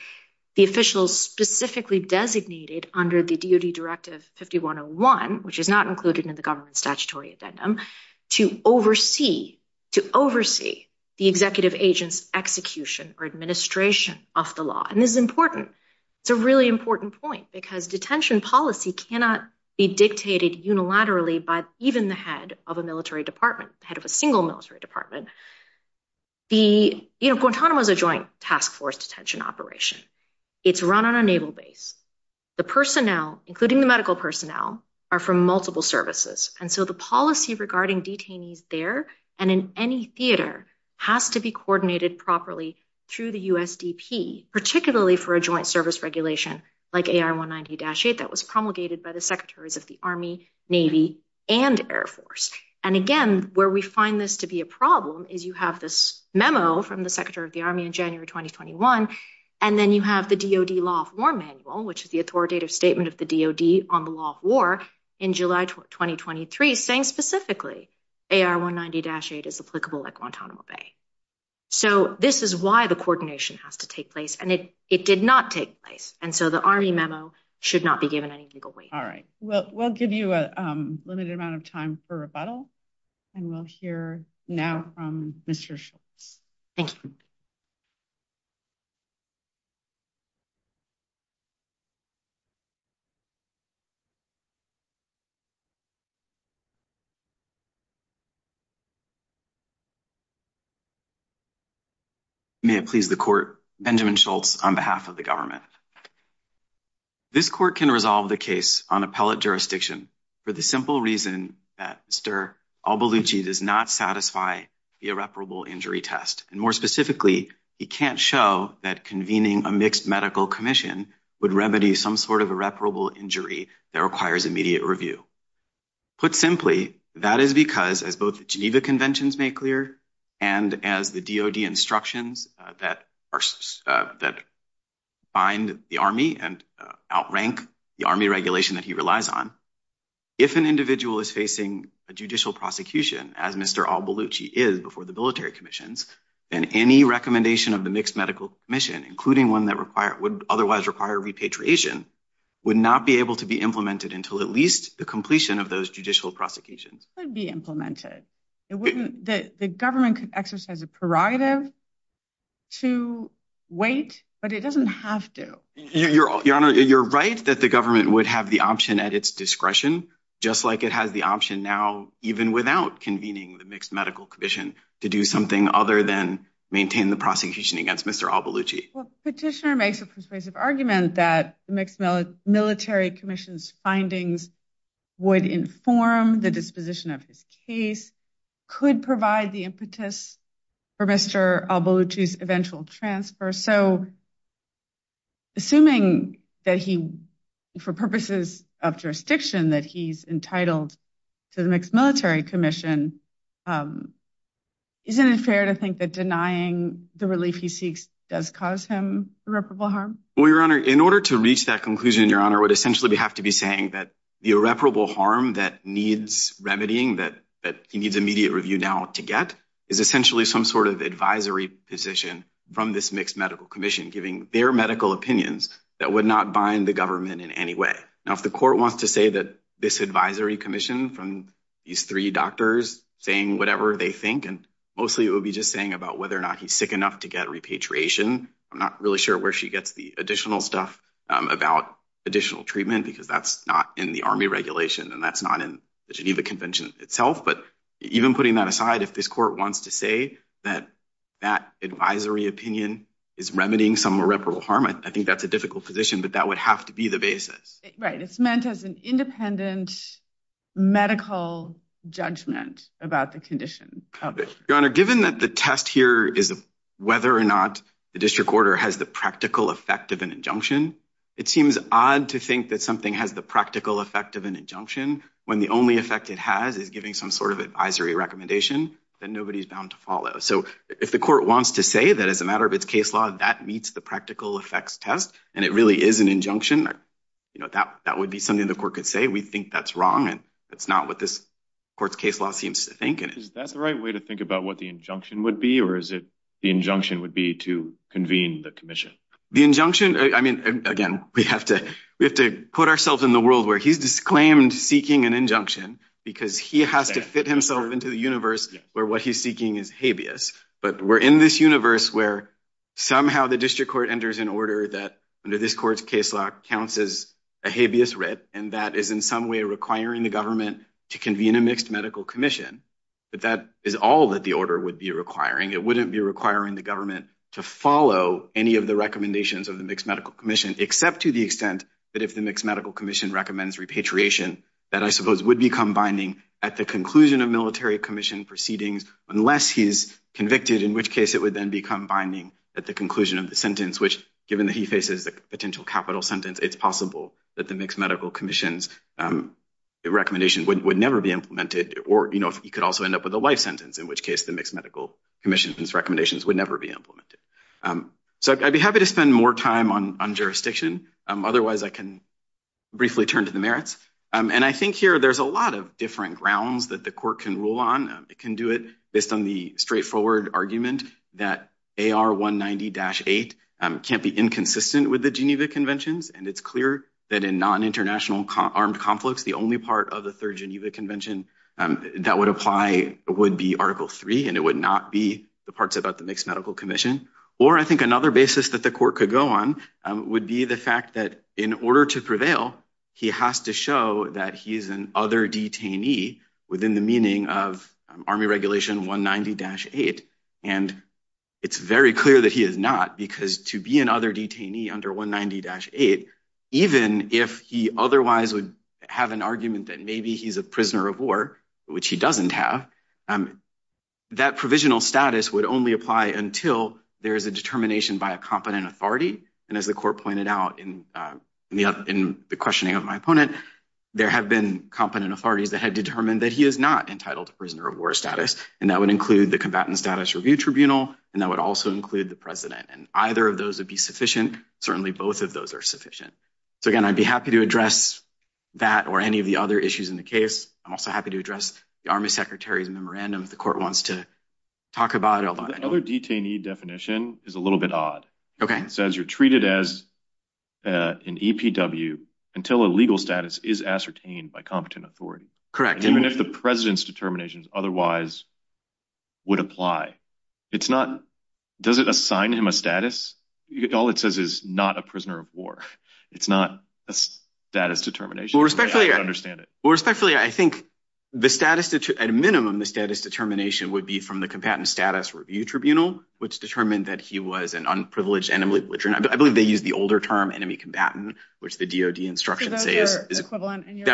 the officials specifically designated under the DOD directive 5101, which is not included in the government statutory addendum, to oversee the executive agent's execution or administration of the law. And this is important. It's a really important point because detention policy cannot be dictated unilaterally by even the head of a military department, the head of a single military department. Guantanamo is a joint task force detention operation. It's run on a naval base. The personnel, including the medical personnel, are from multiple services. And so the policy regarding detainees there and in any theater has to be coordinated properly through the USDP, particularly for a joint service regulation like AR 190-8 that was promulgated by the secretaries of the Army, Navy, and Air Force. And again, where we find this to be a problem is you have this memo from the secretary of the Army in January, 2021, and then you have the DOD Law of War Manual, which is the authoritative statement of the DOD on the law of war in July, 2023, saying specifically AR 190-8 is applicable at Guantanamo Bay. So this is why the coordination has to take place. And it did not take place. And so the Army memo should not be given any legal weight. All right. Well, we'll give you a limited amount of time for rebuttal and we'll hear now from Mr. Schultz. Thank you. May it please the court, Benjamin Schultz, on behalf of the government. This court can resolve the case on appellate jurisdiction for the simple reason that Mr. Albulucci does not satisfy the irreparable injury test. And more specifically, he can't show that convening a mixed medical commission would remedy some sort of irreparable injury that requires immediate review. Put simply, that is because, as both the Geneva Conventions made clear, and as the DOD instructions that bind the Army and outrank the Army regulation that he relies on, if an individual is facing a judicial prosecution, as Mr. Albulucci is before the military commissions, then any recommendation of the mixed medical commission, including one that would otherwise require repatriation, would not be able to be implemented until at least the completion of those judicial prosecutions. Could be implemented. The government could exercise a prerogative to wait, but it doesn't have to. Your Honor, you're right that the government would have the option at its discretion, just like it has the option now, even without convening the mixed medical commission to do something other than maintain the prosecution against Mr. Albulucci. Petitioner makes a persuasive argument that the mixed military commission's findings would inform the disposition of his case, could provide the impetus for Mr. Albulucci's eventual transfer. So, assuming that he, for purposes of jurisdiction, that he's entitled to the mixed military commission, isn't it fair to think that denying the relief he seeks does cause him irreparable harm? Well, Your Honor, in order to reach that conclusion, Your Honor, what essentially we have to be saying that the irreparable harm that needs remedying, that he needs immediate review now to get, is essentially some sort of advisory position from this mixed medical commission, giving their medical opinions that would not bind the government in any way. Now, if the court wants to say that this advisory commission from these three doctors saying whatever they think, and mostly it would be just saying about whether or not he's sick enough to get repatriation. I'm not really sure where she gets the additional stuff about additional treatment, because that's not in the army regulation, and that's not in the Geneva Convention itself. But even putting that aside, if this court wants to say that that advisory opinion is remedying some irreparable harm, I think that's a difficult position, but that would have to be the basis. Right, it's meant as an independent medical judgment about the condition. Your Honor, given that the test here is whether or not the district order has the practical effect of an injunction, it seems odd to think that something has the practical effect of an injunction when the only effect it has is giving some sort of advisory recommendation that nobody's bound to follow. So if the court wants to say that as a matter of its case law that meets the practical effects test, and it really is an injunction, you know, that would be something the court could say. We think that's wrong, and that's not what this court's case law seems to think. Is that the right way to think about what the injunction would be, or is it the injunction would be to convene the commission? The injunction, I mean, again, we have to put ourselves in the world where he's disclaimed seeking an injunction because he has to fit himself into the universe where what he's seeking is habeas. But we're in this universe where somehow the district court enters an order that under this court's case law counts as a habeas writ, and that is in some way requiring the government to convene a mixed medical commission. But that is all that the order would be requiring. It wouldn't be requiring the government to follow any of the recommendations of the mixed medical commission, except to the extent that if the mixed medical commission recommends repatriation, that I suppose would become binding at the conclusion of military commission proceedings, unless he's convicted, in which case it would then become binding at the conclusion of the sentence, which given that he faces a potential capital sentence, it's possible that the mixed medical commission's recommendation would never be implemented, or, you know, he could also end up with a life sentence, in which case the mixed medical commission's recommendations would never be implemented. So I'd be happy to spend more time on jurisdiction. Otherwise, I can briefly turn to the merits. And I think here there's a lot of different grounds that the court can rule on. It can do it based on the straightforward argument that AR-190-8 can't be inconsistent with the Geneva Conventions, and it's clear that in non-international armed conflicts, the only part of the Third Geneva Convention that would apply would be Article III, and it would not be the parts about the mixed medical commission. Or I think another basis that the court could go on would be the fact that in order to prevail, he has to show that he's an other detainee within the meaning of Army Regulation 190-8. And it's very clear that he is not, because to be an other detainee under 190-8, even if he otherwise would have an argument that maybe he's a prisoner of war, which he doesn't have, that provisional status would only apply until there is a determination by a competent authority. And as the court pointed out in the questioning of my opponent, there have been competent authorities that have determined that he is not entitled to prisoner of war status, and that would include the Combatant Status Review Tribunal, and that would also include the president. And either of those would be sufficient. Certainly both of those are sufficient. So again, I'd be happy to address that or any of the other issues in the case. I'm also happy to address the Army Secretary's memorandum if the court wants to talk about it. The other detainee definition is a little bit odd. It says you're treated as an EPW until a legal status is ascertained by competent authority. Even if the president's determinations otherwise would apply. It's not, does it assign him a status? All it says is not a prisoner of war. It's not a status determination. Well, respectfully, I think the status, at a minimum, the status determination would be from the Combatant Status Review Tribunal, which determined that he was an unprivileged enemy. I believe they use the older term, enemy combatant, which the DOD instructions say is equivalent.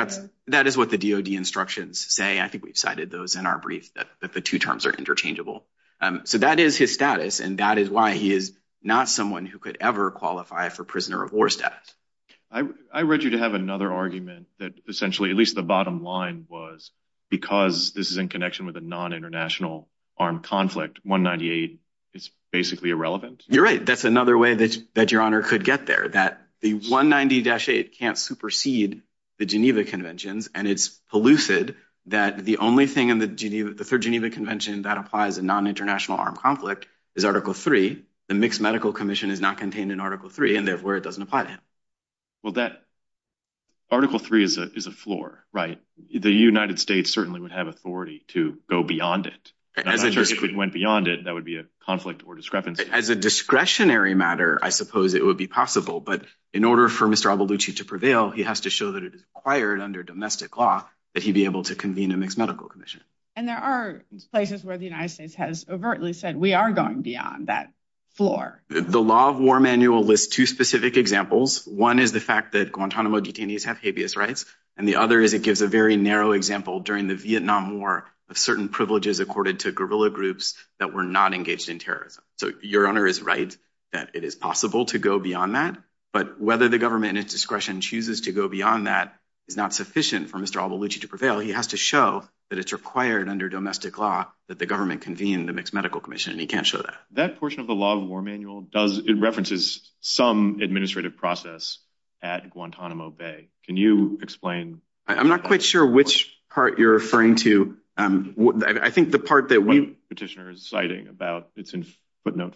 That is what the DOD instructions say. I think we've cited those in our brief that the two terms are interchangeable. So that is his status, and that is why he is not someone who could ever qualify for prisoner of war status. I read you to have another argument that essentially at least the bottom line was because this is in connection with a non-international armed conflict, 198 is basically irrelevant. You're right. That's another way that Your Honor could get there, that the 190-8 can't supersede the Geneva Conventions, and it's elusive that the only thing in the Geneva, the third Geneva Convention that applies a non-international armed conflict is Article III. The Mixed Medical Commission is not contained in Article III, and therefore it doesn't apply to him. Well, that, Article III is a floor, right? The United States certainly would have authority to go beyond it. As a discretion. If it went beyond it, that would be a conflict or discrepancy. As a discretionary matter, I suppose it would be possible, but in order for Mr. Aboulouchi to prevail, he has to show that it is required under domestic law that he be able to convene a Mixed Medical Commission. And there are places where the United States has overtly said, we are going beyond that floor. The Law of War Manual lists two specific examples. One is the fact that Guantanamo detainees have habeas rights, and the other is it gives a very narrow example during the Vietnam War of certain privileges accorded to guerrilla groups that were not engaged in terrorism. So your honor is right that it is possible to go beyond that, but whether the government and its discretion chooses to go beyond that is not sufficient for Mr. Aboulouchi to prevail. He has to show that it's required under domestic law that the government convene the Mixed Medical Commission, and he can't show that. That portion of the Law of War Manual does, it references some administrative process at Guantanamo Bay. Can you explain? I'm not quite sure which part you're referring to. I think the part that we... Petitioner is citing about, it's in footnote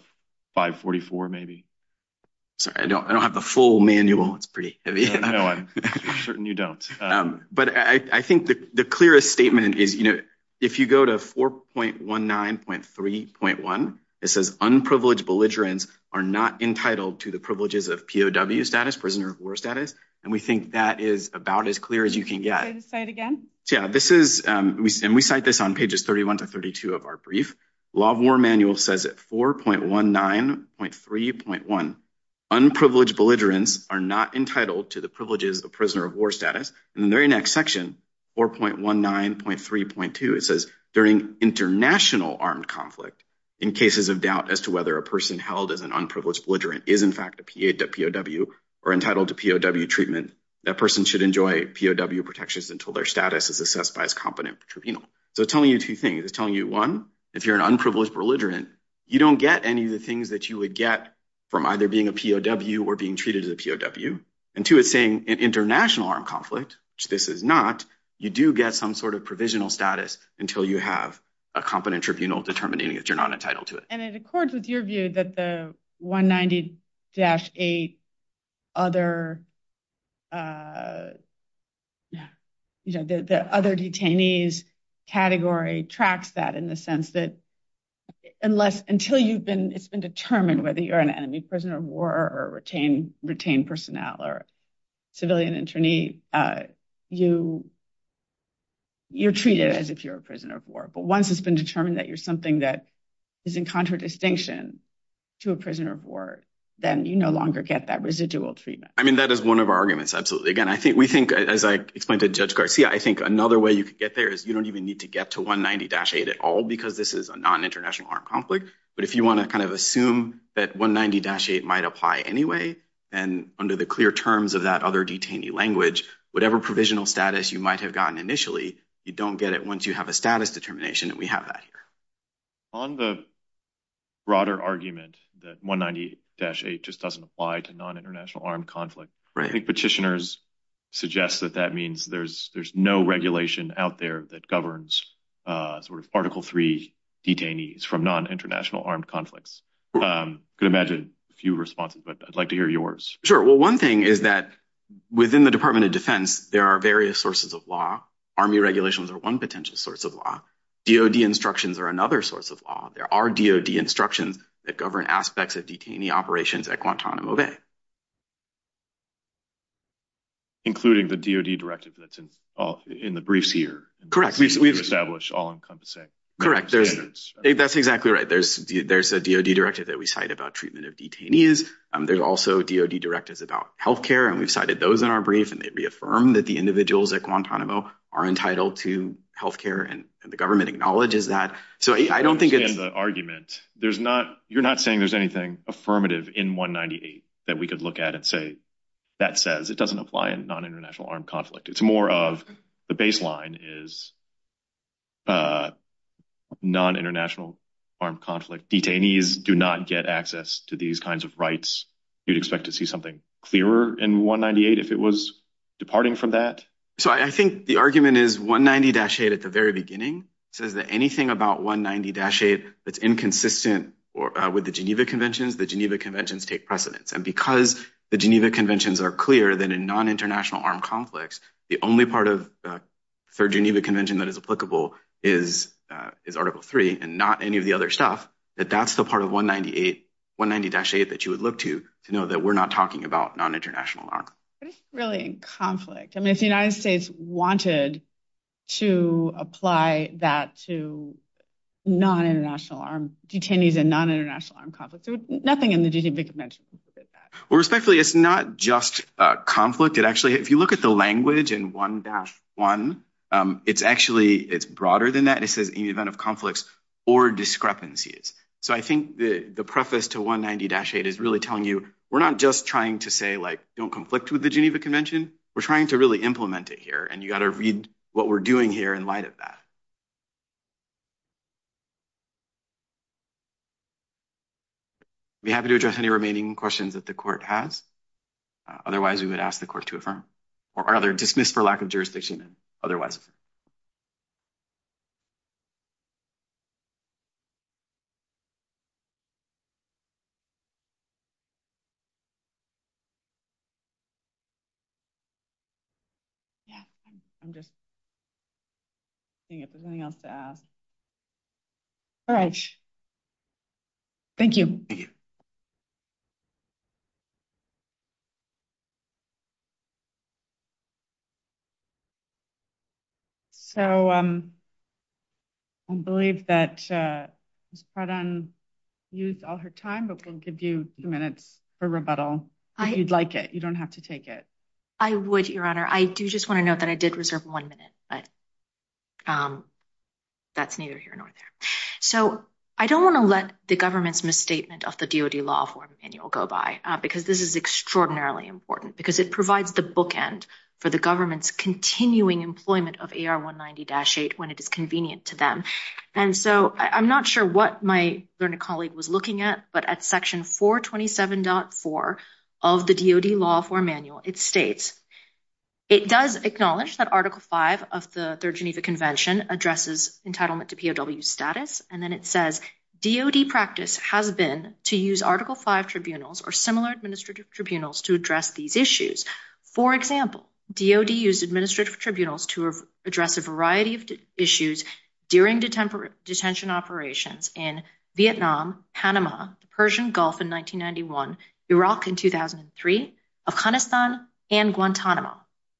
544, maybe. Sorry, I don't have the full manual. It's pretty heavy. No, I'm certain you don't. But I think the clearest statement is, if you go to 4.19.3.1, it says, unprivileged belligerents are not entitled to the privileges of POW status, prisoner of war status. And we think that is about as clear as you can get. Say it again. Yeah, this is, and we cite this on pages 31 to 32 of our brief. Law of War Manual says at 4.19.3.1, unprivileged belligerents are not entitled to the privileges of prisoner of war status. In the very next section, 4.19.3.2, it says, during international armed conflict, in cases of doubt as to whether a person held as an unprivileged belligerent is in fact a POW, or entitled to POW treatment, that person should enjoy POW protections until their status is assessed by his competent tribunal. So it's telling you two things. It's telling you, one, if you're an unprivileged belligerent, you don't get any of the things that you would get from either being a POW or being treated as a POW. And two, it's saying in international armed conflict, which this is not, you do get some sort of provisional status until you have a competent tribunal determining that you're not entitled to it. And it accords with your view that the 190-8 other, you know, the other detainees category tracks that in the sense that unless, until you've been, it's been determined whether you're an enemy prisoner of war or retained personnel or civilian internee, you're treated as if you're a prisoner of war. But once it's been determined that you're something that is in contradistinction to a prisoner of war, then you no longer get that residual treatment. I mean, that is one of our arguments. Absolutely. Again, I think we think as I explained to Judge Garcia, I think another way you could get there is you don't even need to get to 190-8 at all because this is a non-international armed conflict. But if you want to kind of assume that 190-8 might apply anyway, and under the clear terms of that other detainee language, whatever provisional status you might have gotten initially, you don't get it once you have a status determination and we have that here. On the broader argument that 190-8 just doesn't apply to non-international armed conflict, I think petitioners suggest that that means there's no regulation out there that governs sort of Article III detainees from non-international armed conflicts. Could imagine a few responses, but I'd like to hear yours. Sure. Well, one thing is that within the Department of Defense, there are various sources of law. Army regulations are one potential source of law. DOD instructions are another source of law. There are DOD instructions that govern aspects of detainee operations at Guantanamo Bay. Including the DOD directive that's in the briefs here. Correct. We've established all-encompassing standards. That's exactly right. There's a DOD directive that we cite about treatment of detainees. There's also DOD directives about healthcare, and we've cited those in our brief, and they reaffirm that the individuals at Guantanamo are entitled to healthcare, and the government acknowledges that. So I don't think it's- I understand the argument. You're not saying there's anything affirmative in 198 that we could look at and say, that says it doesn't apply in non-international armed conflict. It's more of the baseline is non-international armed conflict. Detainees do not get access to these kinds of rights. You'd expect to see something clearer in 198 if it was departing from that? So I think the argument is 190-8 at the very beginning says that anything about 190-8 that's inconsistent with the Geneva Conventions, the Geneva Conventions take precedence. And because the Geneva Conventions are clear that in non-international armed conflicts, the only part of the Third Geneva Convention that is applicable is Article III, and not any of the other stuff, that that's the part of 198, 190-8 that you would look to to know that we're not talking about non-international armed conflict. But it's really in conflict. I mean, if the United States wanted to apply that to non-international armed, detainees in non-international armed conflicts, nothing in the Geneva Convention would look at that. Well, respectfully, it's not just a conflict. It actually, if you look at the language in 1-1, it's actually, it's broader than that. It says any event of conflicts or discrepancies. So I think the preface to 190-8 is really telling you, we're not just trying to say like, don't conflict with the Geneva Convention. We're trying to really implement it here, and you got to read what we're doing here in light of that. Be happy to address any remaining questions that the court has. Otherwise, we would ask the court to affirm, or rather dismiss for lack of jurisdiction, otherwise. Yeah, I'm just seeing if there's anything else to ask. All right. Thank you. So I believe that Ms. Pratt-Ann used all her time, but we'll give you a few minutes for rebuttal, if you'd like it. You don't have to take it. I would, Your Honor. I do just want to note that I did reserve one minute, but that's neither here nor there. So I don't want to let the government's misstatement of the DOD Law Reform Manual go by, because this is extraordinarily important, because it provides the bookend for the government's continuing employment of AR-190-8 when it is convenient to them. And so I'm not sure what my learned colleague was looking at, but at section 427.4 of the DOD Law Reform Manual, it states, it does acknowledge that Article 5 of the Third Geneva Convention addresses entitlement to POW status. And then it says, DOD practice has been to use Article 5 tribunals or similar administrative tribunals to address these issues. For example, DOD used administrative tribunals to address a variety of issues during detention operations in Vietnam, Panama, the Persian Gulf in 1991, Iraq in 2003, Afghanistan, and Guantanamo,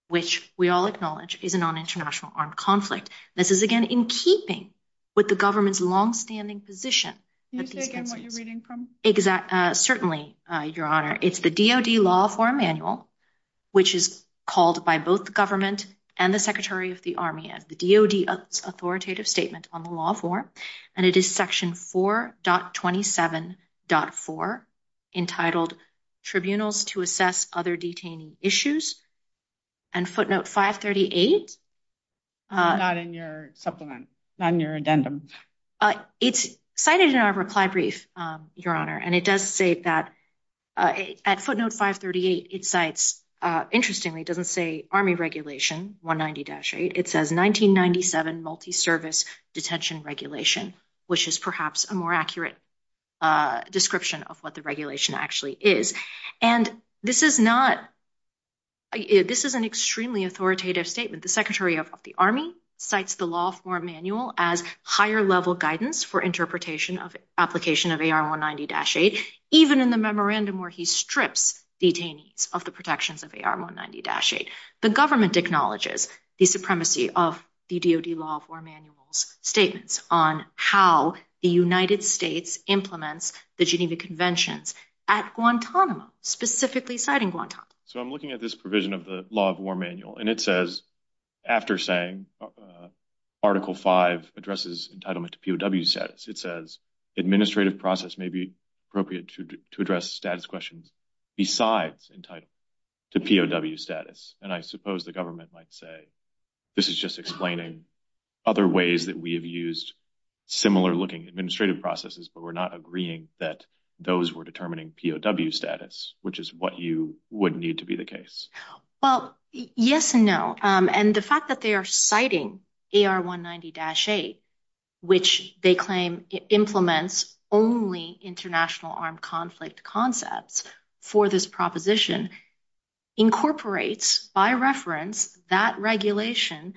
which we all acknowledge is a non-international armed conflict. This is, again, in keeping with the government's longstanding position. Can you say again what you're reading from? Certainly, Your Honor. It's the DOD Law Reform Manual, which is called by both the government and the Secretary of the Army as the DOD's authoritative statement on the law of war, and it is Section 4.27.4, entitled Tribunals to Assess Other Detainee Issues. And footnote 538. Not in your supplement, not in your addendum. It's cited in our reply brief, Your Honor, and it does say that at footnote 538, it cites, interestingly, it doesn't say Army Regulation 190-8. It says 1997 Multi-Service Detention Regulation, which is perhaps a more accurate description of what the regulation actually is. And this is not, this is an extremely authoritative statement. The Secretary of the Army cites the Law Reform Manual as higher-level guidance for interpretation of application of AR-190-8, even in the memorandum where he strips detainees of the protections of AR-190-8. The government acknowledges the supremacy of the DOD Law Reform Manual's statements on how the United States implements the Geneva Conventions at Guantanamo, specifically citing Guantanamo. So I'm looking at this provision of the Law Reform Manual, and it says, after saying Article 5 addresses entitlement to POW status, it says administrative process may be appropriate to address status questions besides entitlement to POW status. And I suppose the government might say, this is just explaining other ways that we have used similar-looking administrative processes, but we're not agreeing that those were determining POW status, which is what you would need to be the case. Well, yes and no. And the fact that they are citing AR-190-8, which they claim implements only international armed conflict concepts for this proposition, incorporates by reference that regulation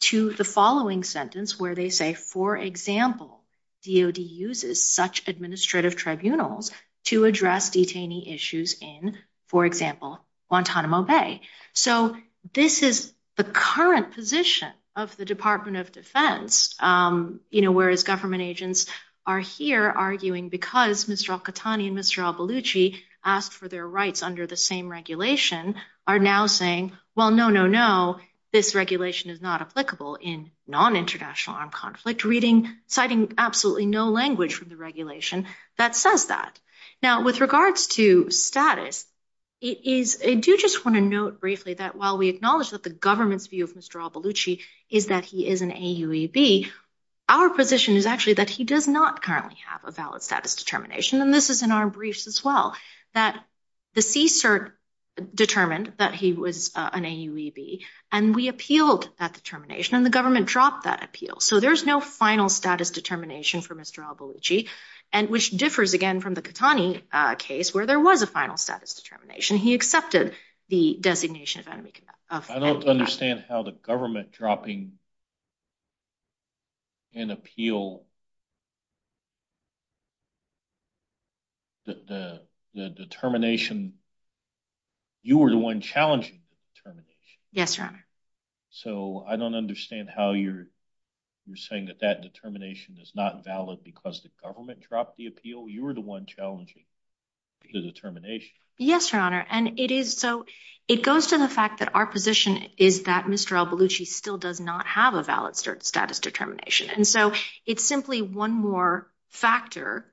to the following sentence where they say, for example, DOD uses such administrative tribunals to address detainee issues in, for example, Guantanamo Bay. So this is the current position of the Department of Defense, whereas government agents are here arguing because Mr. Al-Qahtani and Mr. Al-Baluchi asked for their rights under the same regulation are now saying, well, no, no, no, this regulation is not applicable in non-international armed conflict, reading, citing absolutely no language from the regulation that says that. Now, with regards to status, it is, I do just want to note briefly that while we acknowledge that the government's view of Mr. Al-Baluchi is that he is an AUAB, our position is actually that he does not currently have a valid status determination. And this is in our briefs as well, that the CSIRT determined that he was an AUAB and we appealed that determination and the government dropped that appeal. So there's no final status determination for Mr. Al-Baluchi and which differs again from the Qahtani case where there was a final status determination. He accepted the designation of enemy combat. I don't understand how the government dropping an appeal, the determination, you were the one challenging the determination. Yes, Your Honor. So I don't understand how you're saying that that determination is not valid because the government dropped the appeal. You were the one challenging the determination. Yes, Your Honor. And it is, so it goes to the fact that our position is that Mr. Al-Baluchi still does not have a valid status determination. And so it's simply one more factor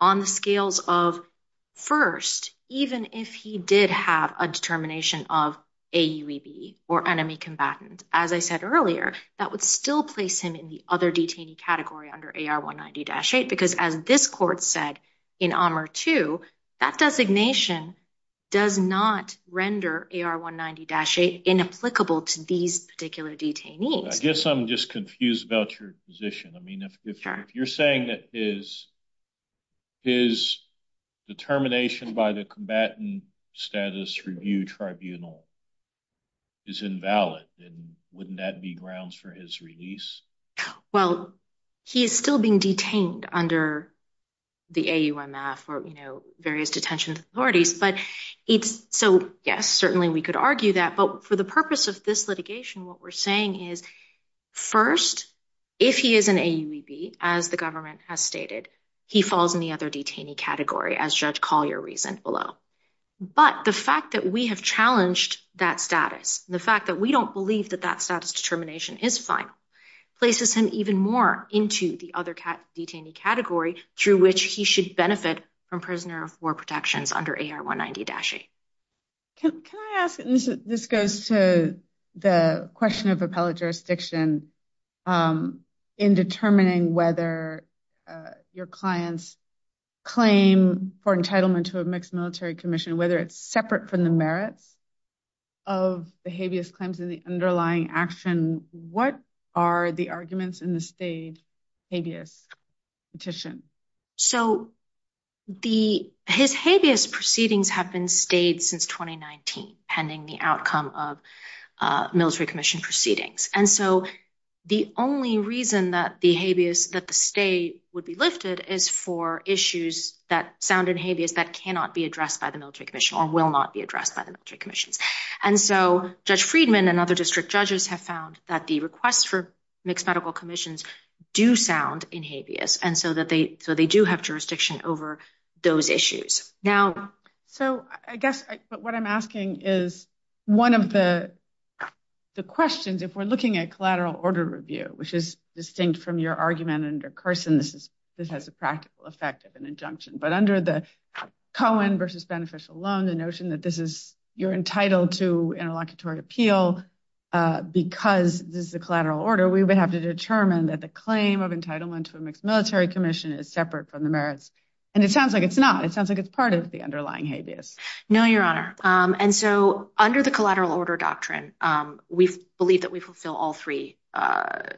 on the scales of first, even if he did have a determination of AUAB or enemy combatant, as I said earlier, that would still place him in the other detainee category under AR-190-8, because as this court said in AMR-2, that designation does not render AR-190-8 inapplicable to these particular detainees. I guess I'm just confused about your position. I mean, if you're saying that his determination by the combatant status review tribunal is invalid, then wouldn't that be grounds for his release? Well, he is still being detained under the AUMF or various detention authorities, but it's, so yes, certainly we could argue that, but for the purpose of this litigation, what we're saying is first, if he is an AUAB, as the government has stated, he falls in the other detainee category as Judge Collier reasoned below. But the fact that we have challenged that status, the fact that we don't believe that that status determination is final, places him even more into the other detainee category through which he should benefit from prisoner of war protections under AR-190-8. Can I ask, and this goes to the question of appellate jurisdiction in determining whether your client's claim for entitlement to a mixed military commission, whether it's separate from the merits of the habeas claims in the underlying action, what are the arguments in the state habeas petition? So his habeas proceedings have been stayed since 2019, pending the outcome of military commission proceedings. And so the only reason that the habeas, that the state would be lifted is for issues that sound in habeas that cannot be addressed by the military commission or will not be addressed by the military commissions. And so Judge Friedman and other district judges have found that the requests for mixed medical commissions do sound in habeas. And so they do have jurisdiction over those issues. Now- So I guess what I'm asking is one of the questions, if we're looking at collateral order review, which is distinct from your argument under Carson, this has a practical effect of an injunction, but under the Cohen versus beneficial loan, the notion that this is, you're entitled to interlocutory appeal because this is a collateral order, we would have to determine that the claim of entitlement to a mixed military commission is separate from the merits. And it sounds like it's not, it sounds like it's part of the underlying habeas. No, Your Honor. And so under the collateral order doctrine, we believe that we fulfill all three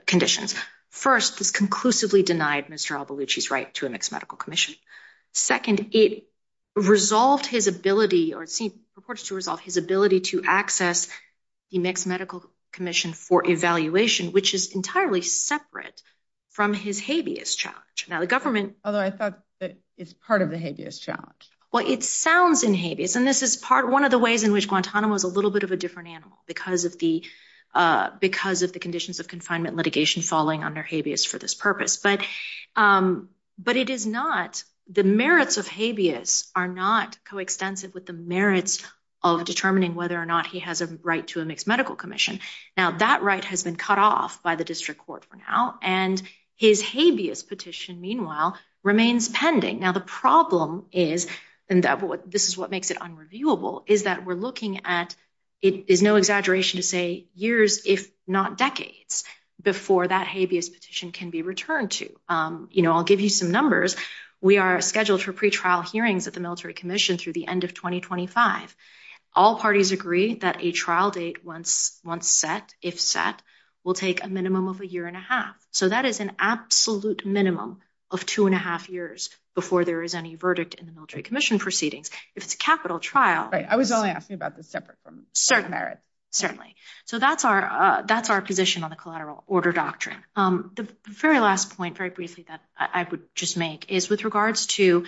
conditions. First, this conclusively denied Mr. Albulucci's right to a mixed medical commission. Second, it resolved his ability, or it seems purported to resolve his ability to access the mixed medical commission for evaluation, which is entirely separate from his habeas challenge. Now the government- Although I thought that it's part of the habeas challenge. Well, it sounds in habeas. And this is part, one of the ways in which Guantanamo is a little bit of a different animal because of the conditions of confinement litigation falling under habeas for this purpose. But it is not, the merits of habeas are not coextensive with the merits of determining whether or not he has a right to a mixed medical commission. Now that right has been cut off by the district court for now. And his habeas petition, meanwhile, remains pending. Now the problem is, and this is what makes it unreviewable, is that we're looking at, it is no exaggeration to say years, if not decades before that habeas petition can be returned to. I'll give you some numbers. We are scheduled for pretrial hearings at the military commission through the end of 2025. All parties agree that a trial date once set, if set, will take a minimum of a year and a half. So that is an absolute minimum of two and a half years before there is any verdict in the military commission proceedings. If it's a capital trial- Right, I was only asking about the separate from- Certain merits, certainly. So that's our position on the collateral order doctrine. The very last point, very briefly, that I would just make is with regards to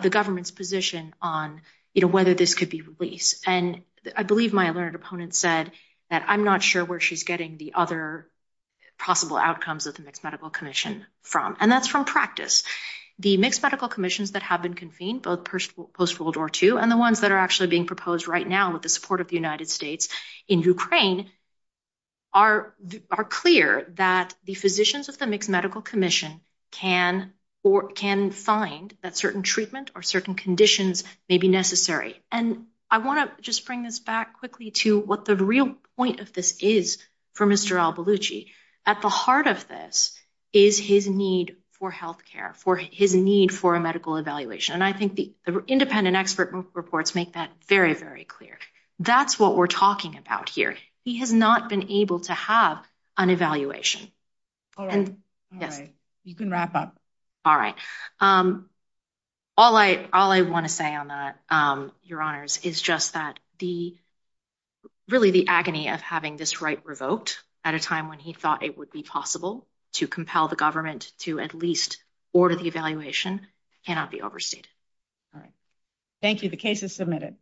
the government's position on whether this could be released. And I believe my learned opponent said that I'm not sure where she's getting the other possible outcomes of the Mixed Medical Commission from. And that's from practice. The Mixed Medical Commissions that have been convened, both post-World War II and the ones that are actually being proposed right now with the support of the United States in Ukraine are clear that the physicians of the Mixed Medical Commission can find that certain treatment or certain conditions may be necessary. And I want to just bring this back quickly to what the real point of this is for Mr. Al-Baluchi. At the heart of this is his need for healthcare, for his need for a medical evaluation. And I think the independent expert reports make that very, very clear. That's what we're talking about here. He has not been able to have an evaluation. All right, all right, you can wrap up. All right. All I want to say on that, Your Honors, is just that really the agony of having this right revoked at a time when he thought it would be possible to compel the government to at least order the evaluation cannot be overstated. All right. Thank you. The case is submitted.